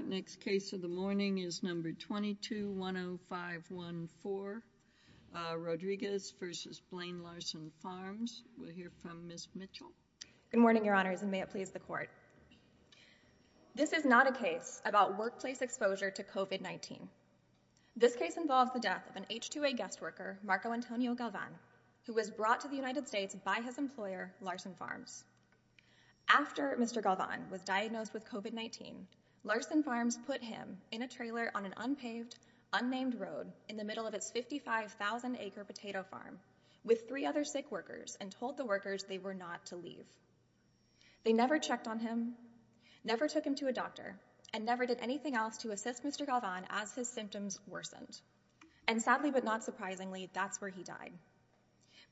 Good morning, Your Honors, and may it please the Court. This is not a case about workplace exposure to COVID-19. This case involves the death of an H-2A guest worker, Marco Antonio Galvan, who was brought to the United States by his employer, Larsen Farms. After Mr. Galvan was diagnosed with COVID-19, Larsen Farms put him in a trailer on an unpaved, unnamed road in the middle of its 55,000-acre potato farm with three other sick workers and told the workers they were not to leave. They never checked on him, never took him to a doctor, and never did anything else to assist Mr. Galvan as his symptoms worsened. And sadly but not surprisingly, that's where he died.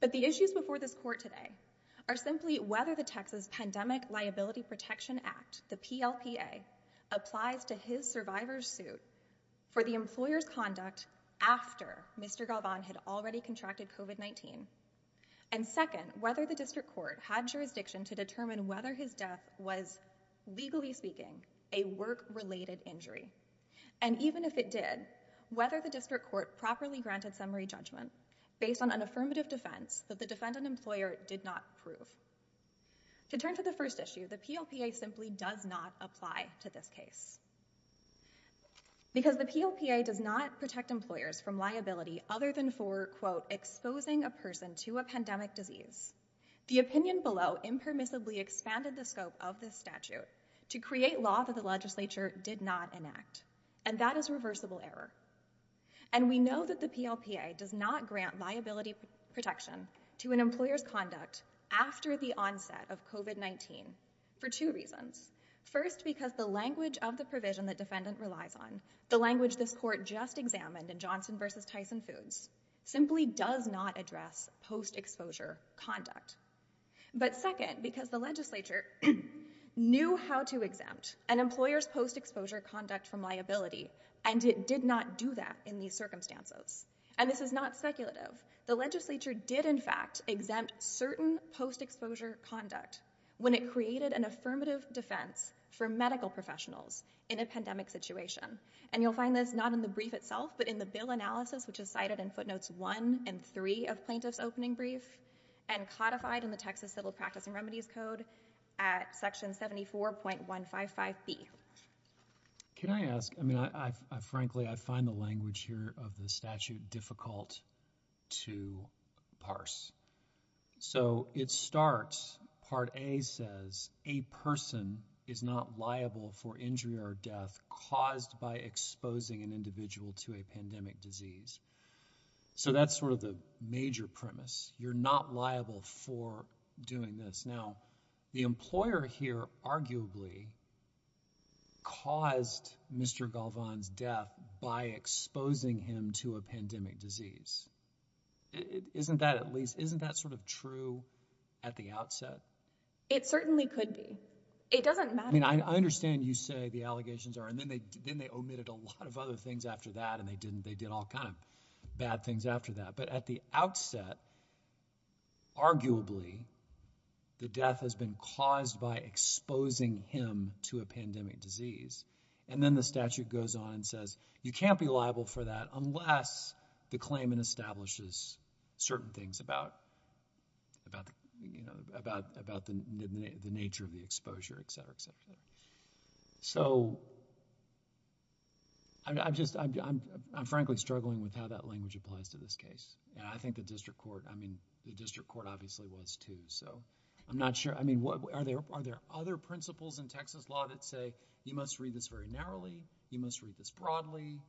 But the issues before this Court today are simply whether the Texas Pandemic Liability Protection Act, the PLPA, applies to his survivor's suit for the employer's conduct after Mr. Galvan had already contracted COVID-19, and second, whether the District Court had jurisdiction to determine whether his death was, legally speaking, a work-related injury. And even if it did, whether the District Court properly granted summary judgment based on affirmative defense that the defendant employer did not prove. To turn to the first issue, the PLPA simply does not apply to this case. Because the PLPA does not protect employers from liability other than for, quote, exposing a person to a pandemic disease, the opinion below impermissibly expanded the scope of this statute to create law that the legislature did not enact, and that is reversible error. And we know that the PLPA does not grant liability protection to an employer's conduct after the onset of COVID-19 for two reasons. First, because the language of the provision the defendant relies on, the language this Court just examined in Johnson v. Tyson Foods, simply does not address post-exposure conduct. But second, because the legislature knew how to exempt an employer's post-exposure conduct from liability, and it did not do that in these circumstances. And this is not speculative. The legislature did, in fact, exempt certain post-exposure conduct when it created an affirmative defense for medical professionals in a pandemic situation. And you'll find this not in the brief itself, but in the bill analysis, which is cited in footnotes one and three of plaintiff's opening brief, and codified in the Texas Civil Practicing Remedies Code at section 74.155B. Can I ask, I mean, I frankly, I find the language here of the statute difficult to parse. So, it starts, Part A says, a person is not liable for injury or death caused by exposing an individual to a pandemic disease. So, that's sort of the major premise. You're not liable for doing this. Now, the employer here arguably caused Mr. Galvan's death by exposing him to a pandemic disease. Isn't that at least, isn't that sort of true at the outset? It certainly could be. It doesn't matter. I mean, I understand you say the allegations are, and then they omitted a lot of other things after that, and they didn't, they did all kind of bad things after that. But at the outset, arguably, the death has been caused by exposing him to a pandemic disease. And then the statute goes on and says, you can't be liable for that unless the claimant establishes certain things about the nature of the exposure, et cetera, et cetera. So, I'm just, I'm frankly struggling with how that language applies to this case. And I think the district court, I mean, the district court obviously was too. So, I'm not sure. I mean, are there other principles in Texas law that say, you must read this very narrowly, you must read this broadly?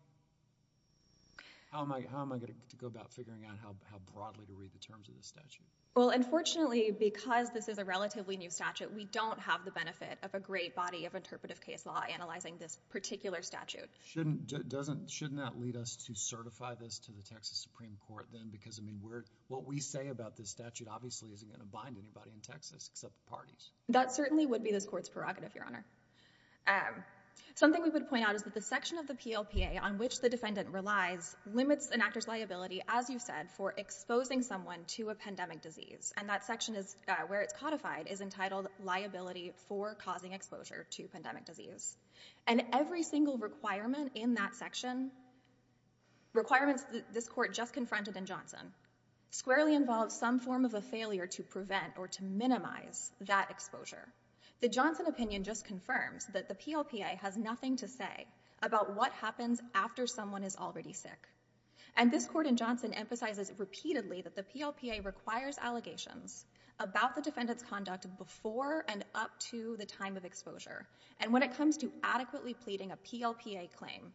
How am I going to go about figuring out how broadly to read the terms of the statute? Well, unfortunately, because this is a relatively new statute, we don't have the benefit of a great body of interpretive case law analyzing this particular statute. Shouldn't, doesn't, shouldn't that lead us to certify this to the Texas Supreme Court then? Because, I mean, we're, what we say about this statute obviously isn't going to bind anybody in Texas except the parties. That certainly would be this court's prerogative, Your Honor. Something we would point out is that the section of the PLPA on which the defendant relies limits an actor's liability, as you said, for exposing someone to a pandemic disease. And that section is, where it's codified, is entitled liability for causing exposure to pandemic disease. And every single requirement in that section, requirements this court just confronted in Johnson, squarely involves some form of a failure to prevent or to minimize that exposure. The Johnson opinion just confirms that the PLPA has nothing to say about what happens after someone is already sick. And this court in Johnson emphasizes repeatedly that the PLPA requires allegations about the defendant's conduct before and up to the time of exposure. And when it comes to adequately pleading a PLPA claim,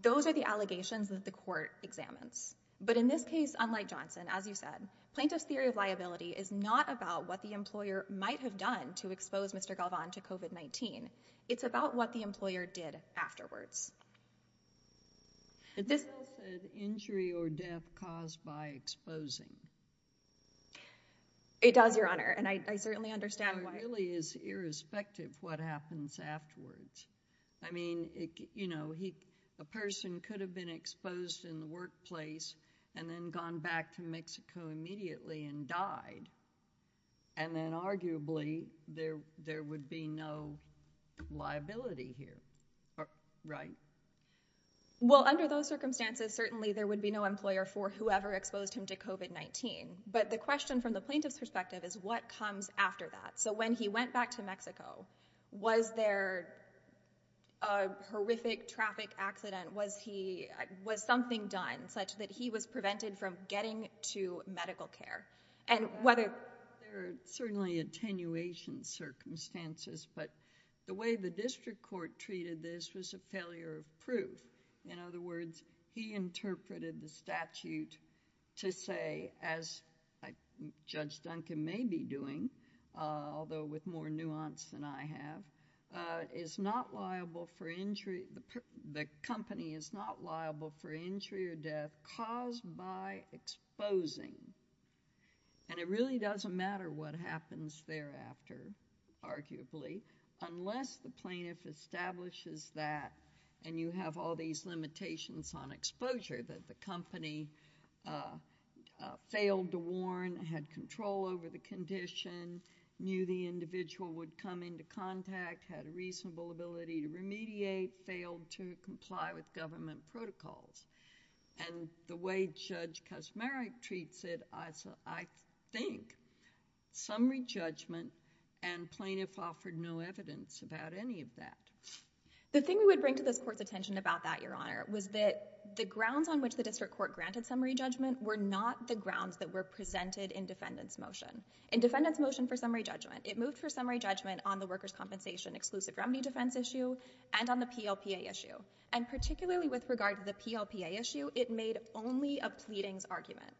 those are the allegations that the court examines. But in this case, unlike Johnson, as you said, plaintiff's theory of liability is not about what the employer might have done to expose Mr. Galvan to COVID-19. It's about what the employer did afterwards. This injury or death caused by exposing. It does, Your Honor. And I certainly understand why. It really is irrespective what happens afterwards. I mean, you know, a person could have been exposed in the workplace and then gone back to Mexico immediately and died. And then arguably, there would be no liability here. Right. Well, under those circumstances, certainly there would be no employer for whoever exposed him to COVID-19. But the question from the plaintiff's perspective is what comes after that. So when he went back to Mexico, was there a horrific traffic accident? Was he was something done such that he was prevented from getting to medical care? And whether there are certainly attenuation circumstances. But the way the district court treated this was a failure of proof. In other words, he interpreted the statute to say, as Judge Duncan may be doing, although with more nuance than I have, is not liable for injury. The company is not liable for injury or death caused by exposing. And it really doesn't matter what happens thereafter, arguably, unless the plaintiff establishes that and you have all these limitations on exposure that the company failed to warn, had control over the condition, knew the individual would come into contact, had a reasonable ability to remediate, failed to comply with government protocols. And the way Judge Kosmary treats it, I think summary judgment and plaintiff offered no evidence about any of that. The thing we would bring to this court's attention about that, Your Honor, was that the grounds on which the district court granted summary judgment were not the grounds that were presented in defendant's motion. In defendant's motion for summary judgment, it moved for summary judgment on the workers compensation exclusive remedy defense issue and on the PLPA issue. And particularly with regard to the PLPA issue, it made only a pleadings argument.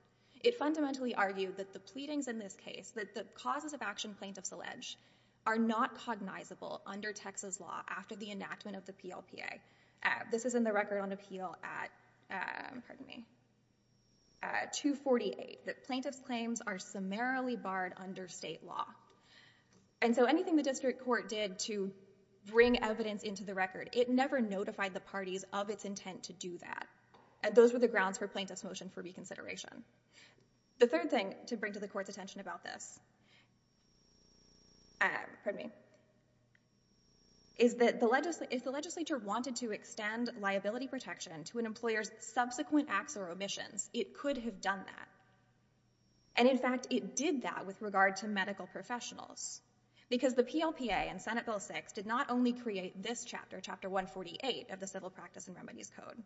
It fundamentally argued that the pleadings in this case, that the causes of action plaintiffs allege, are not cognizable under Texas law after the enactment of the PLPA. This is in the record on appeal at, pardon me, 248, that plaintiff's claims are summarily barred under state law. And so anything the district court did to bring evidence into the record, it never notified the parties of its intent to do that. And those were the grounds for plaintiff's motion for reconsideration. The third thing to bring to the court's attention about this, pardon me, is that if the legislature wanted to extend liability protection to an employer's subsequent acts or omissions, it could have done that. And in fact, it did that with regard to medical professionals because the PLPA and Senate Article 6 did not only create this chapter, Chapter 148 of the Civil Practice and Remedies Code,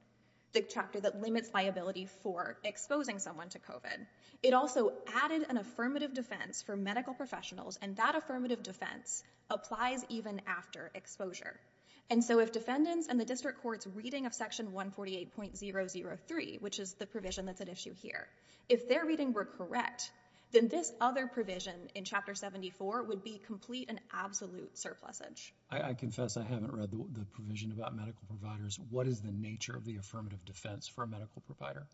the chapter that limits liability for exposing someone to COVID. It also added an affirmative defense for medical professionals, and that affirmative defense applies even after exposure. And so if defendants and the district court's reading of Section 148.003, which is the provision that's at issue here, if their reading were correct, then this other provision in I confess I haven't read the provision about medical providers. What is the nature of the affirmative defense for a medical provider?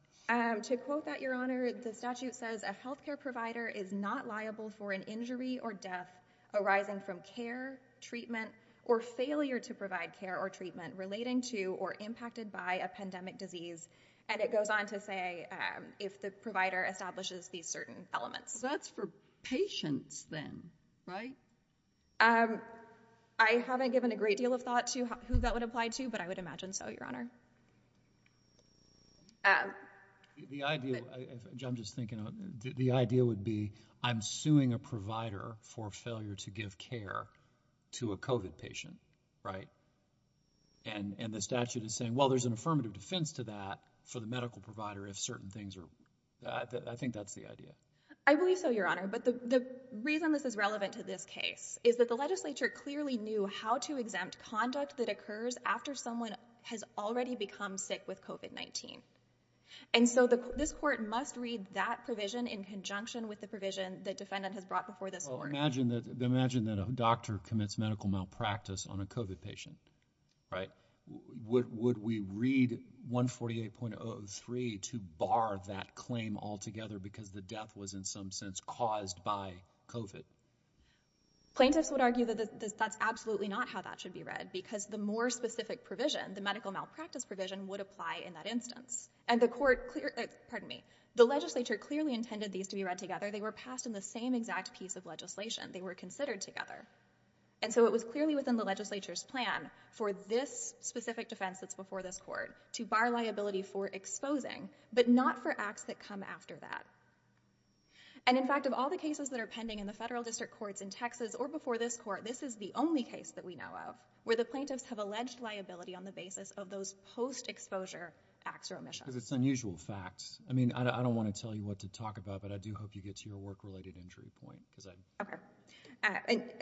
To quote that, Your Honor, the statute says a health care provider is not liable for an injury or death arising from care, treatment, or failure to provide care or treatment relating to or impacted by a pandemic disease. And it goes on to say if the provider establishes these certain elements. That's for patients then, right? I haven't given a great deal of thought to who that would apply to, but I would imagine so, Your Honor. The idea, I'm just thinking, the idea would be I'm suing a provider for failure to give care to a COVID patient, right? And the statute is saying, well, there's an affirmative defense to that for the medical provider if certain things are, I think that's the idea. I believe so, Your Honor, but the reason this is relevant to this case is that the legislature clearly knew how to exempt conduct that occurs after someone has already become sick with COVID-19. And so this court must read that provision in conjunction with the provision that defendant has brought before this court. Well, imagine that a doctor commits medical malpractice on a COVID patient, right? Would we read 148.003 to bar that claim altogether because the death was in some sense caused by COVID? Plaintiffs would argue that that's absolutely not how that should be read because the more specific provision, the medical malpractice provision would apply in that instance. And the court, pardon me, the legislature clearly intended these to be read together. They were passed in the same exact piece of legislation. They were considered together. And so it was clearly within the legislature's plan for this specific defense that's before this court to bar liability for exposing, but not for acts that come after that. And in fact, of all the cases that are pending in the federal district courts in Texas or before this court, this is the only case that we know of where the plaintiffs have alleged liability on the basis of those post-exposure acts or omissions. Because it's unusual facts. I mean, I don't want to tell you what to talk about, but I do hope you get to your work-related injury point because I... Okay.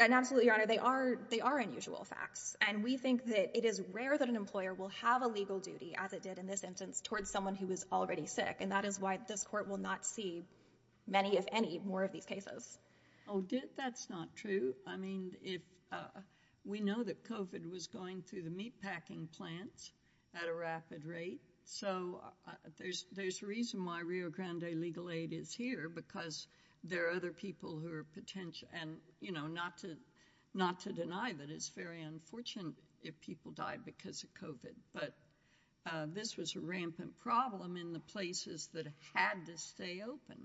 And absolutely, Your Honor, they are unusual facts. And we think that it is rare that an employer will have a legal duty as it did in this instance towards someone who was already sick. And that is why this court will not see many, if any, more of these cases. Oh, that's not true. I mean, we know that COVID was going through the meatpacking plants at a rapid rate. So there's a reason why Rio Grande Legal Aid is here because there are other people who are potentially... And not to deny that it's very unfortunate if people die because of COVID. But this was a rampant problem in the places that had to stay open.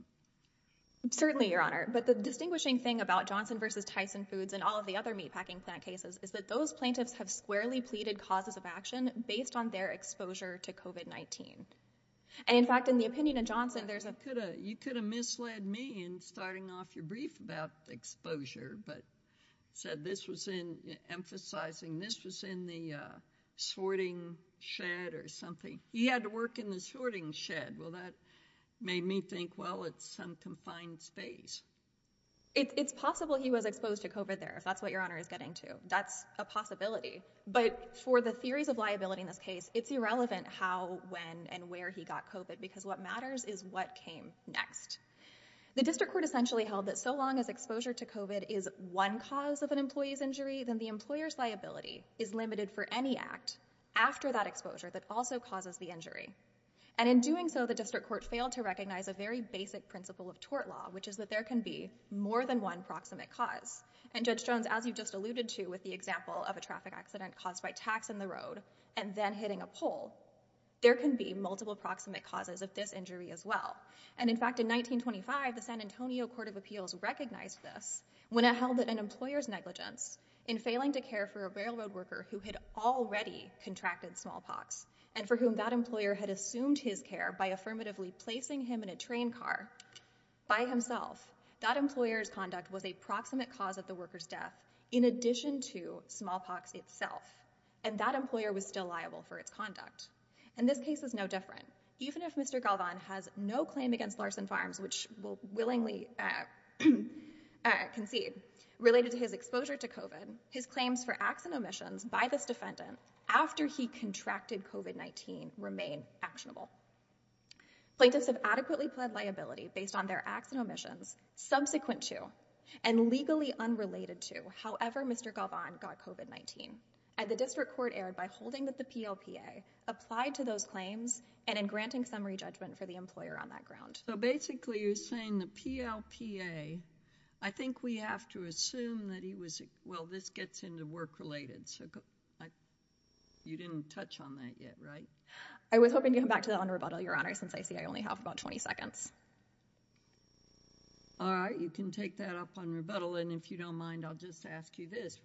Certainly, Your Honor. But the distinguishing thing about Johnson v. Tyson Foods and all of the other meatpacking plant cases is that those plaintiffs have squarely pleaded causes of action based on their exposure to COVID-19. And in fact, in the opinion of Johnson, there's a... You could have misled me in starting off your brief about exposure. Said this was in... Emphasizing this was in the sorting shed or something. He had to work in the sorting shed. Well, that made me think, well, it's some confined space. It's possible he was exposed to COVID there, if that's what Your Honor is getting to. That's a possibility. But for the theories of liability in this case, it's irrelevant how, when, and where he got COVID because what matters is what came next. The district court essentially held that so long as exposure to COVID is one cause of an employee's injury, then the employer's liability is limited for any act after that exposure that also causes the injury. And in doing so, the district court failed to recognize a very basic principle of tort law, which is that there can be more than one proximate cause. And Judge Jones, as you just alluded to with the example of a traffic accident caused by tax in the road and then hitting a pole, there can be multiple proximate causes of this injury as well. And in fact, in 1925, the San Antonio Court of Appeals recognized this when it held that an employer's negligence in failing to care for a railroad worker who had already contracted smallpox and for whom that employer had assumed his care by affirmatively placing him in a train car by himself, that employer's conduct was a proximate cause of the worker's death in addition to smallpox itself. And that employer was still liable for its conduct. And this case is no different. Even if Mr. Galvan has no claim against Larson Farms, which we'll willingly concede, related to his exposure to COVID, his claims for acts and omissions by this defendant after he contracted COVID-19 remain actionable. Plaintiffs have adequately pled liability based on their acts and omissions subsequent to and legally unrelated to however Mr. Galvan got COVID-19. And the district court erred by holding that the PLPA applied to those claims and in granting summary judgment for the employer on that ground. So basically, you're saying the PLPA, I think we have to assume that he was, well, this gets into work-related. So you didn't touch on that yet, right? I was hoping to come back to that on rebuttal, Your Honor, since I see I only have about 20 seconds. All right, you can take that up on rebuttal. And if you don't mind, I'll just ask you this.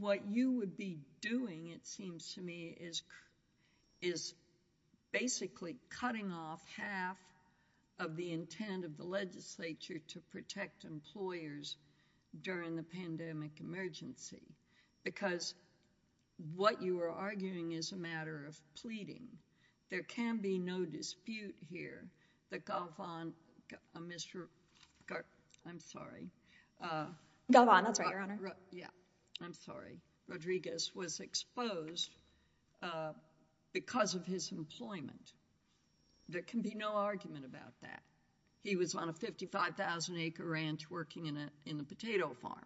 What you would be doing, it seems to me, is basically cutting off half of the intent of the legislature to protect employers during the pandemic emergency. Because what you are arguing is a matter of pleading. There can be no dispute here that Galvan, Mr. Garp, I'm sorry. Galvan, that's right, Your Honor. Yeah, I'm sorry. Rodriguez was exposed because of his employment. There can be no argument about that. He was on a 55,000-acre ranch working in a potato farm.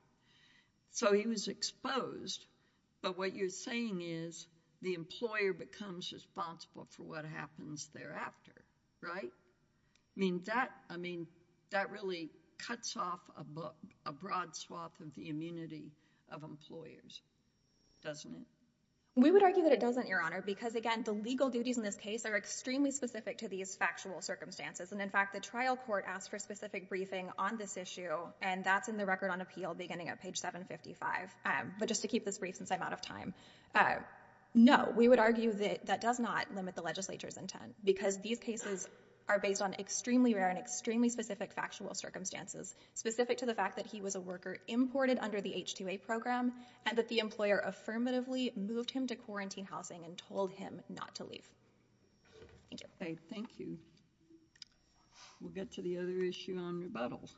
So he was exposed. But what you're saying is the employer becomes responsible for what happens thereafter, right? I mean, that really cuts off a broad swath of the immunity of employers, doesn't it? We would argue that it doesn't, Your Honor, because again, the legal duties in this case are extremely specific to these factual circumstances. And in fact, the trial court asked for a specific briefing on this issue. And that's in the record on appeal beginning at page 755. But just to keep this brief since I'm out of time. Because these cases are based on extremely rare and extremely specific factual circumstances. Specific to the fact that he was a worker imported under the H-2A program and that the employer affirmatively moved him to quarantine housing and told him not to leave. Thank you. Okay, thank you. We'll get to the other issue on rebuttal.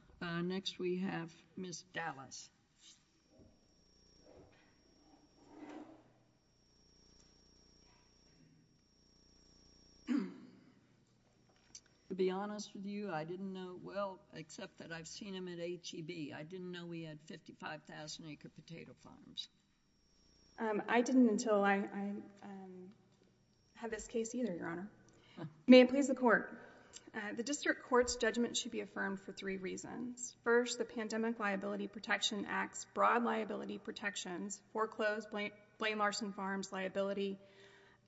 Next, we have Ms. Dallas. To be honest with you, I didn't know well, except that I've seen him at HEB. I didn't know we had 55,000 acre potato farms. I didn't until I had this case either, Your Honor. May it please the court. The district court's judgment should be affirmed for three reasons. First, the Pandemic Liability Protection Act's broad liability protections foreclosed Blaine Larson Farms' liability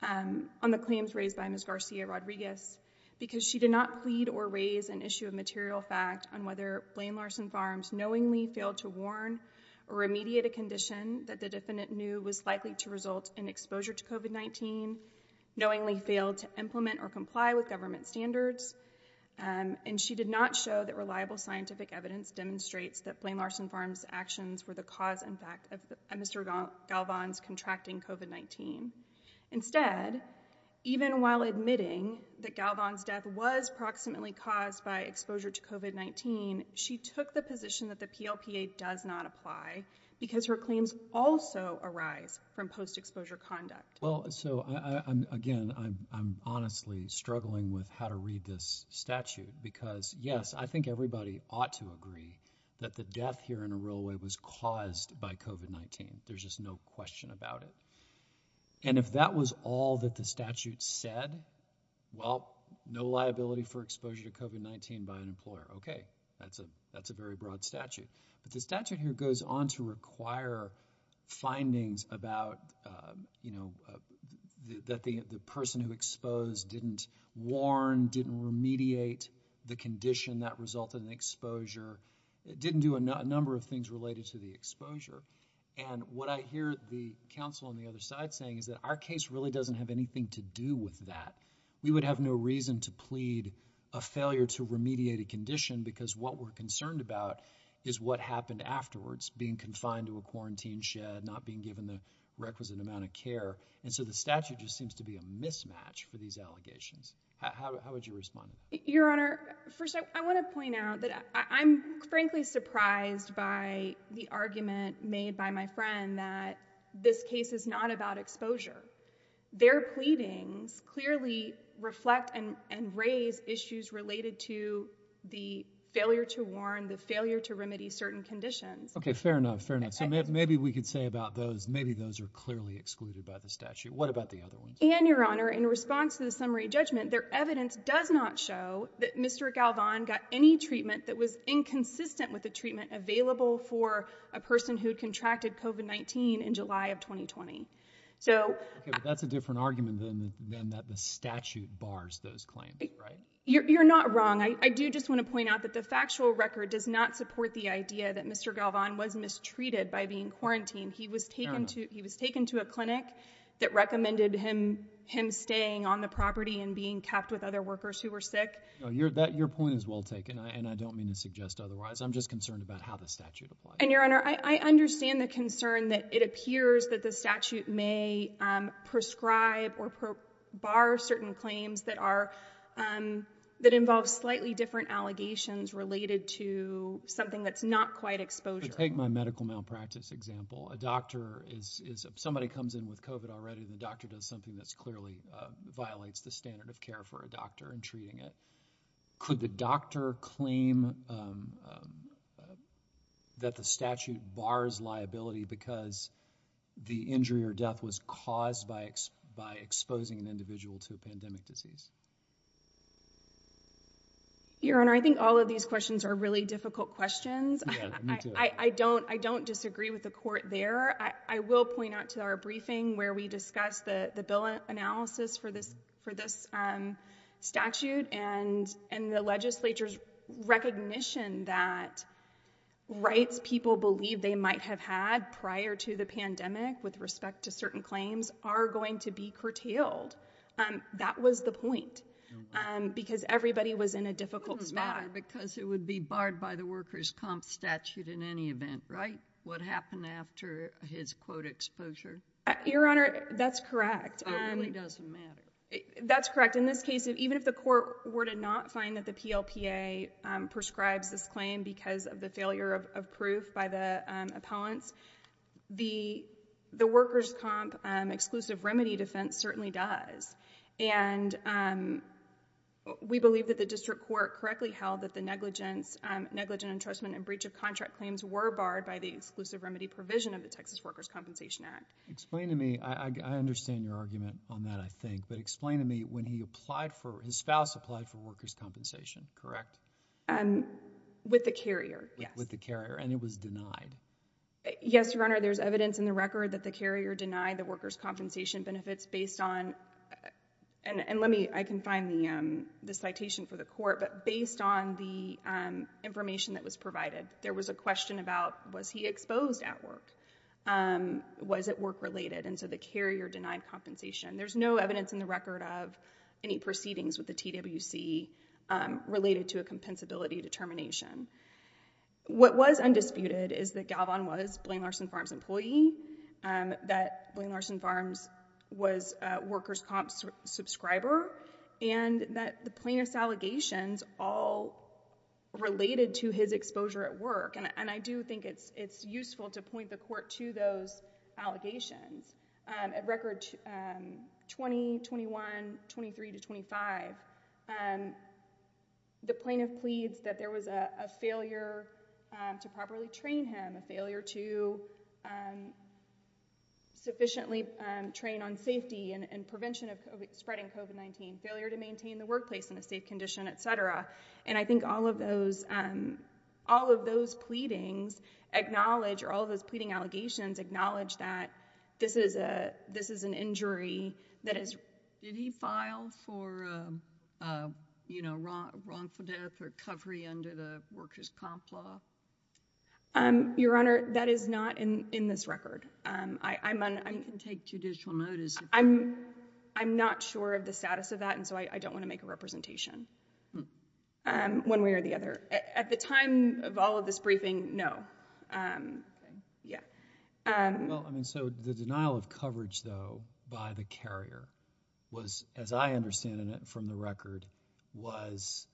on the claims raised by Ms. Garcia Rodriguez. Because she did not plead or raise an issue of material fact on whether Blaine Larson Farms knowingly failed to warn or remediate a condition that the defendant knew was likely to result in exposure to COVID-19, knowingly failed to implement or comply with government standards. And she did not show that reliable scientific evidence demonstrates that Blaine Larson Farms' actions were the cause and effect of Mr. Galvan's contracting COVID-19. Instead, even while admitting that Galvan's death was proximately caused by exposure to COVID-19, she took the position that the PLPA does not apply because her claims also arise from post-exposure conduct. Well, so again, I'm honestly struggling with how to read this statute because yes, I think everybody ought to agree that the death here in a real way was caused by COVID-19. There's just no question about it. And if that was all that the statute said, well, no liability for exposure to COVID-19 by an employer. Okay, that's a very broad statute. But the statute here goes on to require findings about, you know, that the person who exposed didn't warn, didn't remediate the condition that resulted in exposure, didn't do a number of things related to the exposure. And what I hear the counsel on the other side saying is that our case really doesn't have anything to do with that. We would have no reason to plead a failure to remediate a condition because what we're concerned about is what happened afterwards, being confined to a quarantine shed, not being given the requisite amount of care. The statute just seems to be a mismatch for these allegations. How would you respond? Your Honor, first, I want to point out that I'm frankly surprised by the argument made by my friend that this case is not about exposure. Their pleadings clearly reflect and raise issues related to the failure to warn, the failure to remedy certain conditions. Okay, fair enough, fair enough. Maybe we could say about those, maybe those are clearly excluded by the statute. What about the other ones? And, Your Honor, in response to the summary judgment, their evidence does not show that Mr. Galvan got any treatment that was inconsistent with the treatment available for a person who contracted COVID-19 in July of 2020. But that's a different argument than that the statute bars those claims, right? You're not wrong. I do just want to point out that the factual record does not support the idea that Mr. Galvan was mistreated by being quarantined. He was taken to, he was taken to a clinic that recommended him, him staying on the property and being kept with other workers who were sick. No, your point is well taken and I don't mean to suggest otherwise. I'm just concerned about how the statute applies. And, Your Honor, I understand the concern that it appears that the statute may prescribe or bar certain claims that are, that involve slightly different allegations related to something that's not quite exposure. Take my medical malpractice example. A doctor is, somebody comes in with COVID already and the doctor does something that's clearly violates the standard of care for a doctor in treating it. Could the doctor claim that the statute bars liability because the injury or death was caused by exposing an individual to a pandemic disease? Your Honor, I think all of these questions are really difficult questions. I don't, I don't disagree with the court there. I will point out to our briefing where we discussed the, the bill analysis for this, for this statute and, and the legislature's recognition that rights people believe they might have had prior to the pandemic with respect to certain claims are going to be curtailed. That was the point. Because everybody was in a difficult spot. Because it would be barred by the workers' comp statute in any event, right? What happened after his quote exposure? Your Honor, that's correct. It really doesn't matter. That's correct. In this case, even if the court were to not find that the PLPA prescribes this claim because of the failure of proof by the appellants, the, the workers' comp exclusive remedy defense certainly does. And we believe that the district court correctly held that the negligence, negligent entrustment and breach of contract claims were barred by the exclusive remedy provision of the Texas Workers' Compensation Act. Explain to me, I understand your argument on that, I think, but explain to me when he applied for, his spouse applied for workers' compensation, correct? With the carrier, yes. With the carrier and it was denied? Workers' compensation benefits based on, and, and let me, I can find the, um, the citation for the court, but based on the, um, information that was provided, there was a question about was he exposed at work? Um, was it work related? And so the carrier denied compensation. There's no evidence in the record of any proceedings with the TWC, um, related to a compensability determination. What was undisputed is that Galvan was Blaine Larson Farms' employee, um, that Blaine Larson Farms was a Workers' Comp subscriber, and that the plaintiff's allegations all related to his exposure at work, and, and I do think it's, it's useful to point the court to those allegations. Um, at record, um, 20, 21, 23 to 25, um, the plaintiff pleads that there was a, a failure, um, to properly train him, a failure to, um, sufficiently, um, train on safety and, and prevention of spreading COVID-19, failure to maintain the workplace in a safe condition, et cetera. And I think all of those, um, all of those pleadings acknowledge, or all of those pleading allegations acknowledge that this is a, this is an injury that is. Did he file for, um, um, you know, wrong, wrongful death or recovery under the Workers' Comp law? Um, Your Honor, that is not in, in this record. Um, I, I'm on, I'm. You can take judicial notice. I'm, I'm not sure of the status of that, and so I, I don't want to make a representation. Um, one way or the other. At the time of all of this briefing, no. Um, yeah. Um. Well, I mean, so the denial of coverage though by the carrier was, as I understand it from the record, was,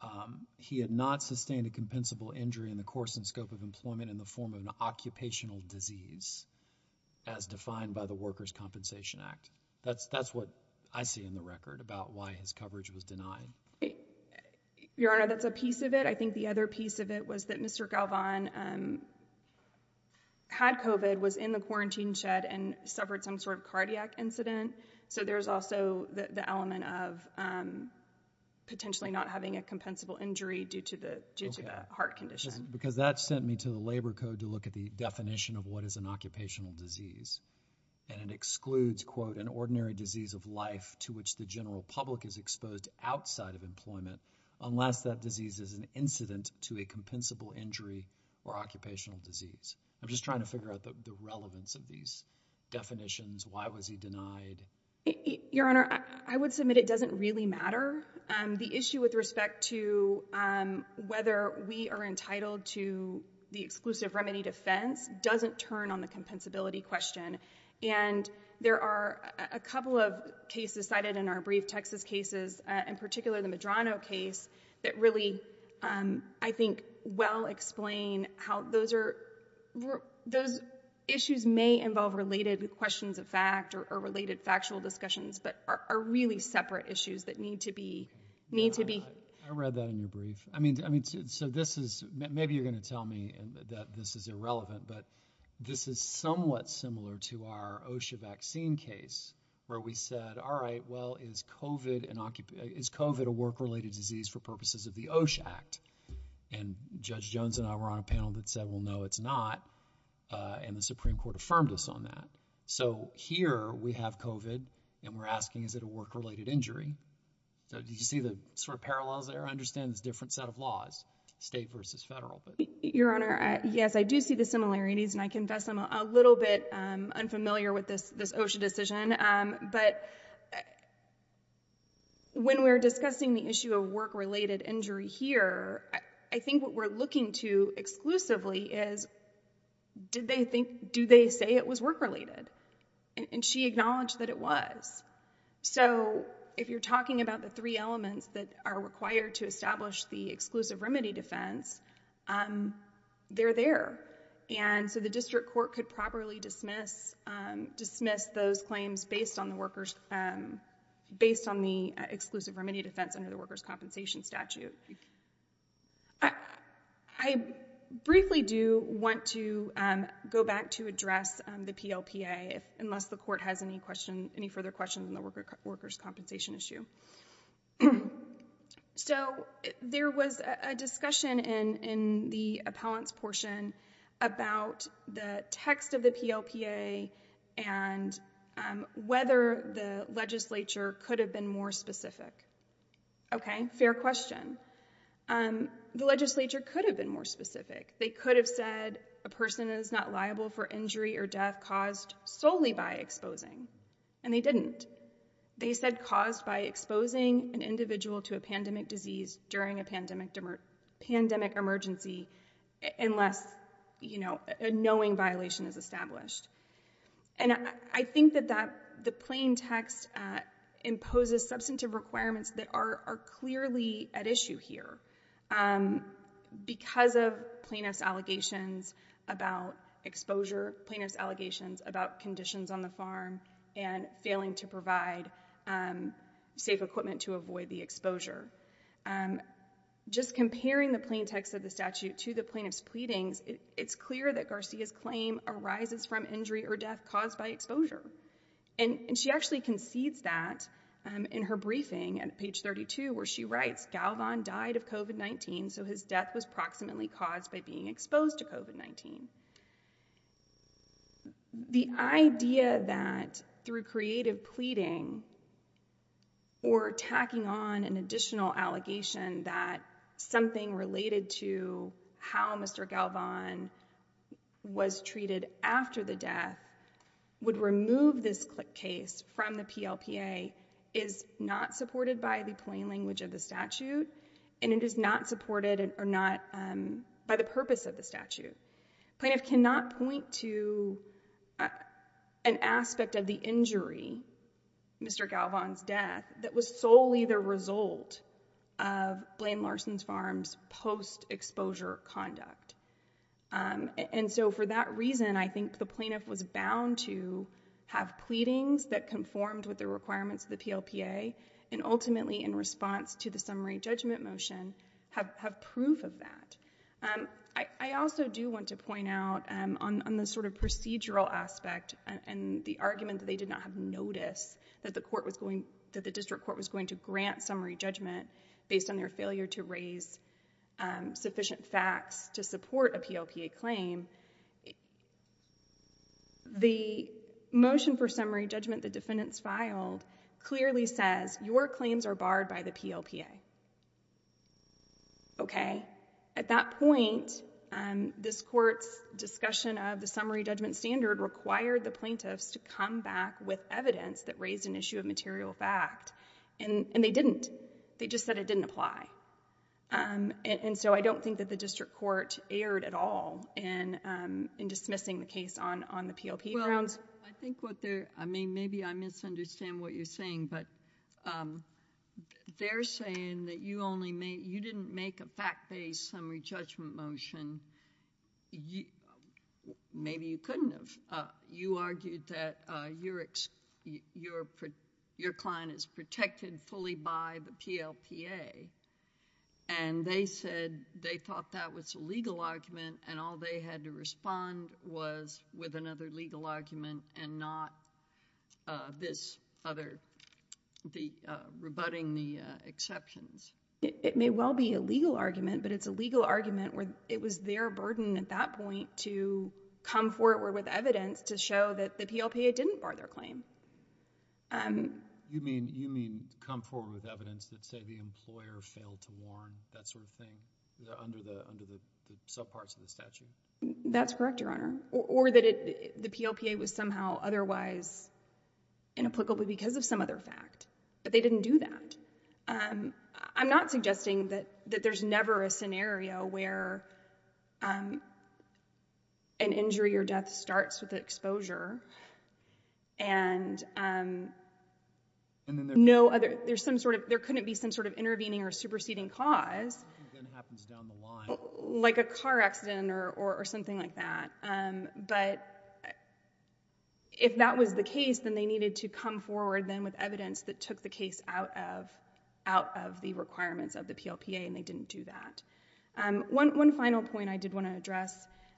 um, he had not sustained a compensable injury in the course and scope of employment in the form of an occupational disease as defined by the Workers' Compensation Act. That's, that's what I see in the record about why his coverage was denied. Your Honor, that's a piece of it. I think the other piece of it was that Mr. Galvan, um, had COVID, was in the quarantine shed and suffered some sort of cardiac incident. So there's also the, the element of, um, potentially not having a compensable injury due to the, due to the heart condition. Because that sent me to the labor code to look at the definition of what is an occupational disease, and it excludes, quote, an ordinary disease of life to which the general public is exposed outside of employment unless that disease is an incident to a compensable injury or occupational disease. I'm just trying to figure out the, the relevance of these definitions. Why was he denied? Your Honor, I, I would submit it doesn't really matter. Um, the issue with respect to, um, whether we are entitled to the exclusive remedy defense doesn't turn on the compensability question. And there are a couple of cases cited in our brief Texas cases, uh, in particular the Medrano case that really, um, I think well explain how those are, those issues may involve related questions of fact or, or related factual discussions, but are, are really separate issues that need to be, need to be... I read that in your brief. I mean, I mean, so this is, maybe you're going to tell me that this is irrelevant, but this is somewhat similar to our OSHA vaccine case where we said, all right, well, is COVID an, is COVID a work-related disease for purposes of the OSHA Act? And Judge Jones and I were on a panel that said, well, no, it's not. Uh, and the Supreme Court affirmed us on that. So here we have COVID and we're asking, is it a work-related injury? So did you see the sort of parallels there? I understand it's a different set of laws, state versus federal, but... And I confess I'm a little bit, um, unfamiliar with this, this OSHA decision. Um, but when we're discussing the issue of work-related injury here, I think what we're looking to exclusively is, did they think, do they say it was work-related? And she acknowledged that it was. So if you're talking about the three elements that are required to establish the exclusive the district court could properly dismiss, um, dismiss those claims based on the workers, um, based on the exclusive remedy defense under the workers' compensation statute. I briefly do want to, um, go back to address, um, the PLPA unless the court has any question, any further questions on the workers' compensation issue. Um, so there was a discussion in, in the appellant's portion about the text of the PLPA and, um, whether the legislature could have been more specific. Okay. Fair question. Um, the legislature could have been more specific. They could have said a person is not liable for injury or death caused solely by exposing. And they didn't. They said caused by exposing an individual to a pandemic disease during a pandemic, pandemic emergency, unless, you know, a knowing violation is established. And I think that that the plain text, uh, imposes substantive requirements that are clearly at issue here, um, because of plaintiff's allegations about exposure, plaintiff's allegations about, um, safety equipment to avoid the exposure. Um, just comparing the plain text of the statute to the plaintiff's pleadings, it's clear that Garcia's claim arises from injury or death caused by exposure. And she actually concedes that, um, in her briefing at page 32, where she writes, Galvan died of COVID-19. So his death was approximately caused by being exposed to COVID-19. The idea that through creative pleading or tacking on an additional allegation that something related to how Mr. Galvan was treated after the death would remove this case from the PLPA is not supported by the plain language of the statute, and it is not supported or not, um, by the purpose of the statute. Plaintiff cannot point to an aspect of the injury, Mr. Galvan's death, that was solely the result of Blaine Larson's farm's post-exposure conduct. Um, and so for that reason, I think the plaintiff was bound to have pleadings that conformed with the requirements of the PLPA and ultimately in response to the summary judgment motion have, have proof of that. Um, I, I also do want to point out, um, on, on the sort of procedural aspect and the argument that they did not have notice that the court was going, that the district court was going to grant summary judgment based on their failure to raise, um, sufficient facts to support a PLPA claim. The motion for summary judgment, the defendants filed clearly says your claims are barred by the PLPA. Okay. Okay. At that point, um, this court's discussion of the summary judgment standard required the plaintiffs to come back with evidence that raised an issue of material fact and, and they didn't. They just said it didn't apply. Um, and, and so I don't think that the district court erred at all in, um, in dismissing the case on, on the PLP grounds. I think what they're, I mean, maybe I misunderstand what you're saying, but, um, they're saying that you only made, you didn't make a fact-based summary judgment motion. You, maybe you couldn't have. Uh, you argued that, uh, your ex, your, your client is protected fully by the PLPA and they said they thought that was a legal argument and all they had to respond was with another legal argument and not, uh, this other, the, uh, rebutting the, uh, exceptions. It may well be a legal argument, but it's a legal argument where it was their burden at that point to come forward with evidence to show that the PLPA didn't bar their claim. Um. You mean, you mean come forward with evidence that say the employer failed to warn, that sort of thing, under the, under the subparts of the statute? That's correct, Your Honor. Or that it, the PLPA was somehow otherwise inapplicable because of some other fact, but they didn't do that. Um, I'm not suggesting that, that there's never a scenario where, um, an injury or death starts with exposure and, um, no other, there's some sort of, there couldn't be some sort of intervening or superseding cause. Something happens down the line. Like a car accident or, or something like that. Um, but if that was the case, then they needed to come forward then with evidence that took the case out of, out of the requirements of the PLPA and they didn't do that. Um, one, one final point I did want to address,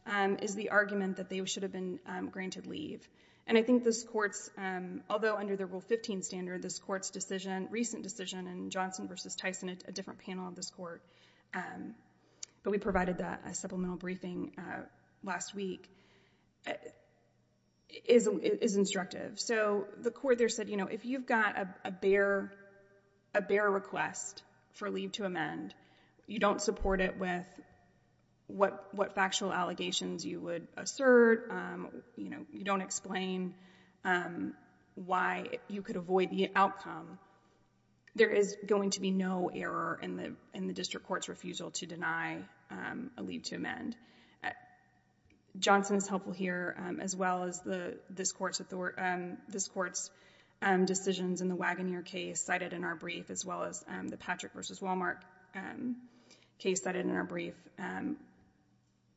um, is the argument that they should have been, um, granted leave. And I think this Court's, um, although under the Rule 15 standard, this Court's decision, recent decision in Johnson versus Tyson, a different panel of this Court, um, but we provided that, a supplemental briefing, uh, last week, is, is instructive. So the Court there said, you know, if you've got a, a bare, a bare request for leave to amend, you don't support it with what, what factual allegations you would assert. Um, you know, you don't explain, um, why you could avoid the outcome. There is going to be no error in the, in the District Court's refusal to deny, um, a leave to amend. Johnson is helpful here, um, as well as the, this Court's author, um, this Court's, um, decisions in the Wagoneer case cited in our brief, as well as, um, the Patrick versus Walmart, um, case cited in our brief, um,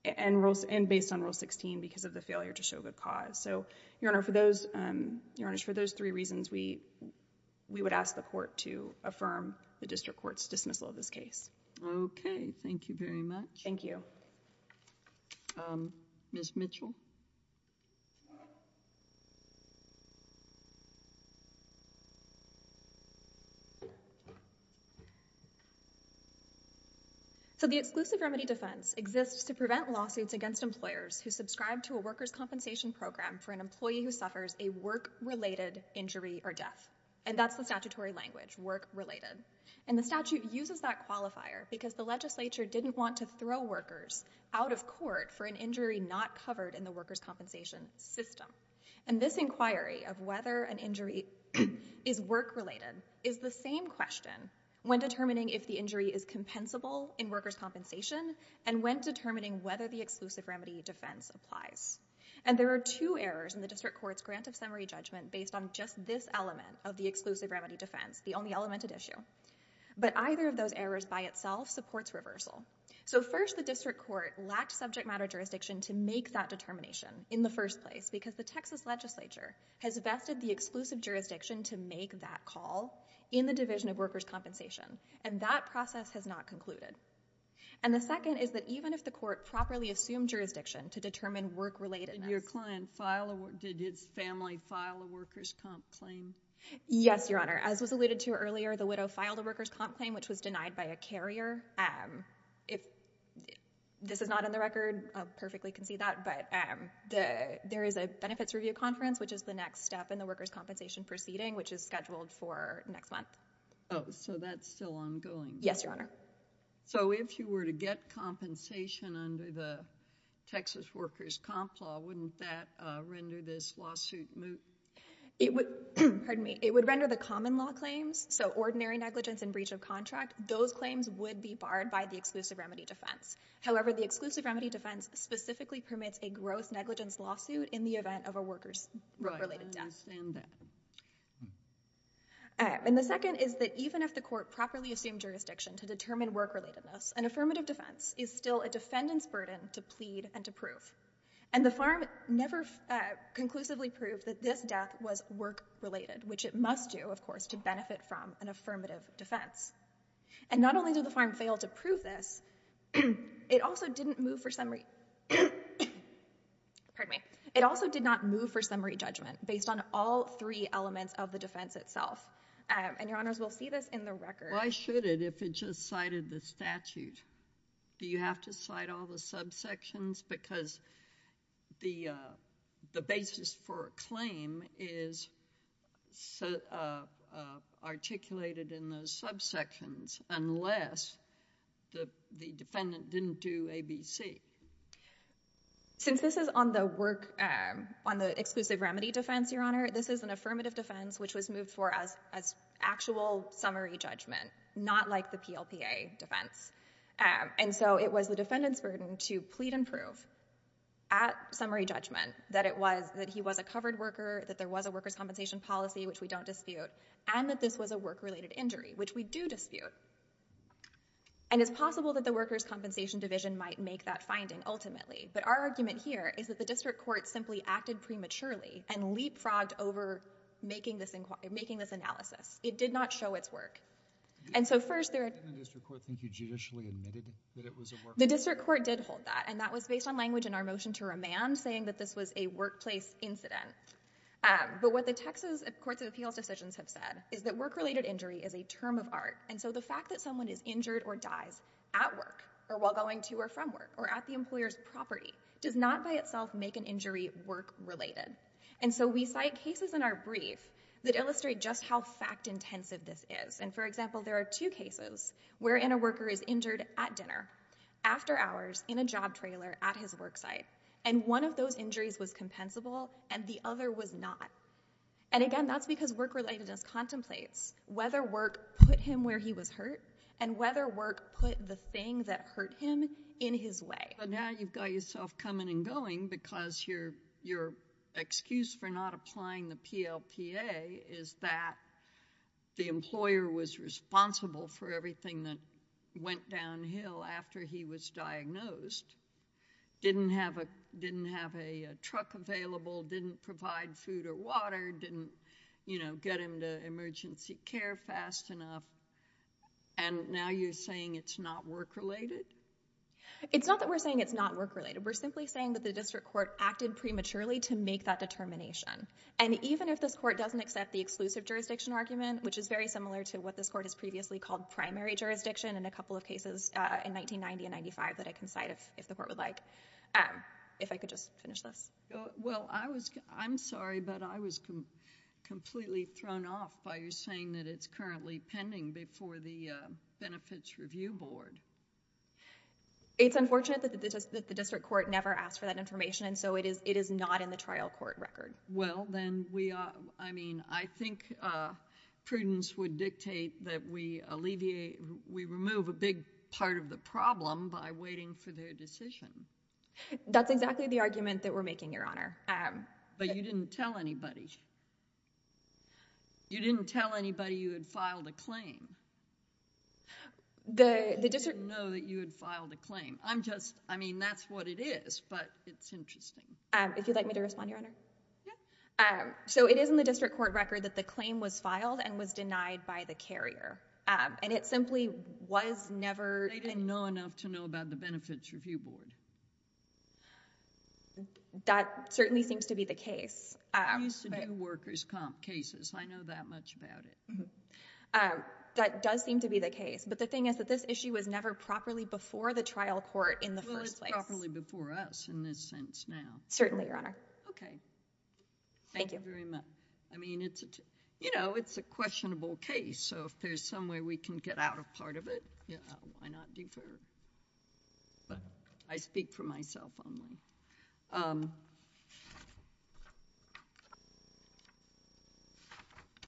and rules, and based on Rule 16 because of the failure to show good cause. So, Your Honor, for those, um, Your Honors, for those three reasons, we, we would ask the Court to affirm the District Court's dismissal of this case. Okay. Thank you very much. Thank you. Um, Ms. Mitchell? So the exclusive remedy defense exists to prevent lawsuits against employers who subscribe to a workers' compensation program for an employee who suffers a work-related injury or death. And that's the statutory language, work-related. And the statute uses that qualifier because the legislature didn't want to throw workers out of court for an injury not covered in the workers' compensation system. And this inquiry of whether an injury is work-related is the same question when determining if the injury is compensable in workers' compensation and when determining whether the exclusive remedy defense applies. And there are two errors in the District Court's grant of summary judgment based on just this element of the exclusive remedy defense, the only element at issue. But either of those errors by itself supports reversal. So first, the District Court lacked subject matter jurisdiction to make that determination in the first place because the Texas legislature has vested the exclusive jurisdiction to make that call in the division of workers' compensation. And that process has not concluded. And the second is that even if the court properly assumed jurisdiction to determine work-relatedness— Did your client file—did his family file a workers' comp claim? Yes, Your Honor. As was alluded to earlier, the widow filed a workers' comp claim, which was denied by a carrier. If this is not in the record, I perfectly can see that. But there is a benefits review conference, which is the next step in the workers' compensation proceeding, which is scheduled for next month. Oh, so that's still ongoing. Yes, Your Honor. So if you were to get compensation under the Texas workers' comp law, wouldn't that render this lawsuit moot? It would—pardon me. It would render the common law claims, so ordinary negligence and breach of contract, those claims would be barred by the exclusive remedy defense. However, the exclusive remedy defense specifically permits a gross negligence lawsuit in the event of a workers' work-related death. Right, I understand that. And the second is that even if the court properly assumed jurisdiction to determine work-relatedness, an affirmative defense is still a defendant's burden to plead and to prove. And the farm never conclusively proved that this death was work-related, which it must do, of course, to benefit from an affirmative defense. And not only did the farm fail to prove this, it also didn't move for summary—pardon me. It also did not move for summary judgment based on all three elements of the defense itself. And, Your Honors, we'll see this in the record. Why should it if it just cited the statute? Do you have to cite all the subsections? Because the basis for a claim is articulated in those subsections unless the defendant didn't do ABC. Since this is on the work—on the exclusive remedy defense, Your Honor, this is an affirmative defense which was moved for as actual summary judgment, not like the PLPA defense. And so it was the defendant's burden to plead and prove at summary judgment that it was that he was a covered worker, that there was a workers' compensation policy, which we don't dispute, and that this was a work-related injury, which we do dispute. And it's possible that the workers' compensation division might make that finding ultimately. But our argument here is that the district court simply acted prematurely and leapfrogged over making this inquiry—making this analysis. It did not show its work. And so first— Did the district court think you judicially admitted that it was a work— The district court did hold that. And that was based on language in our motion to remand saying that this was a workplace incident. But what the Texas Courts of Appeals decisions have said is that work-related injury is a term of art. And so the fact that someone is injured or dies at work or while going to or from work or at the employer's property does not by itself make an injury work-related. And so we cite cases in our brief that illustrate just how fact-intensive this is. And for example, there are two cases wherein a worker is injured at dinner, after hours, in a job trailer at his work site. And one of those injuries was compensable and the other was not. And again, that's because work-relatedness contemplates whether work put him where he was hurt and whether work put the thing that hurt him in his way. Now you've got yourself coming and going because your excuse for not applying the PLPA is that the employer was responsible for everything that went downhill after he was diagnosed, didn't have a truck available, didn't provide food or water, didn't, you know, get him to emergency care fast enough. And now you're saying it's not work-related? It's not that we're saying it's not work-related. We're simply saying that the district court acted prematurely to make that determination. And even if this court doesn't accept the exclusive jurisdiction argument, which is very similar to what this court has previously called primary jurisdiction in a couple of cases in 1990 and 95 that I can cite if the court would like. If I could just finish this. Well, I was, I'm sorry, but I was completely thrown off by you saying that it's currently pending before the Benefits Review Board. It's unfortunate that the district court never asked for that information and so it is not in the trial court record. Well, then we are, I mean, I think prudence would dictate that we alleviate, we remove a big part of the problem by waiting for their decision. That's exactly the argument that we're making, Your Honor. But you didn't tell anybody. You didn't tell anybody you had filed a claim. I didn't know that you had filed a claim. I'm just, I mean, that's what it is, but it's interesting. If you'd like me to respond, Your Honor? Yeah. So it is in the district court record that the claim was filed and was denied by the carrier. And it simply was never... They didn't know enough to know about the Benefits Review Board. That certainly seems to be the case. I used to do workers' comp cases. I know that much about it. Um, that does seem to be the case. But the thing is that this issue was never properly before the trial court in the first place. Well, it's properly before us in this sense now. Certainly, Your Honor. Okay. Thank you very much. I mean, it's a, you know, it's a questionable case. So if there's some way we can get out a part of it, why not defer? But I speak for myself only.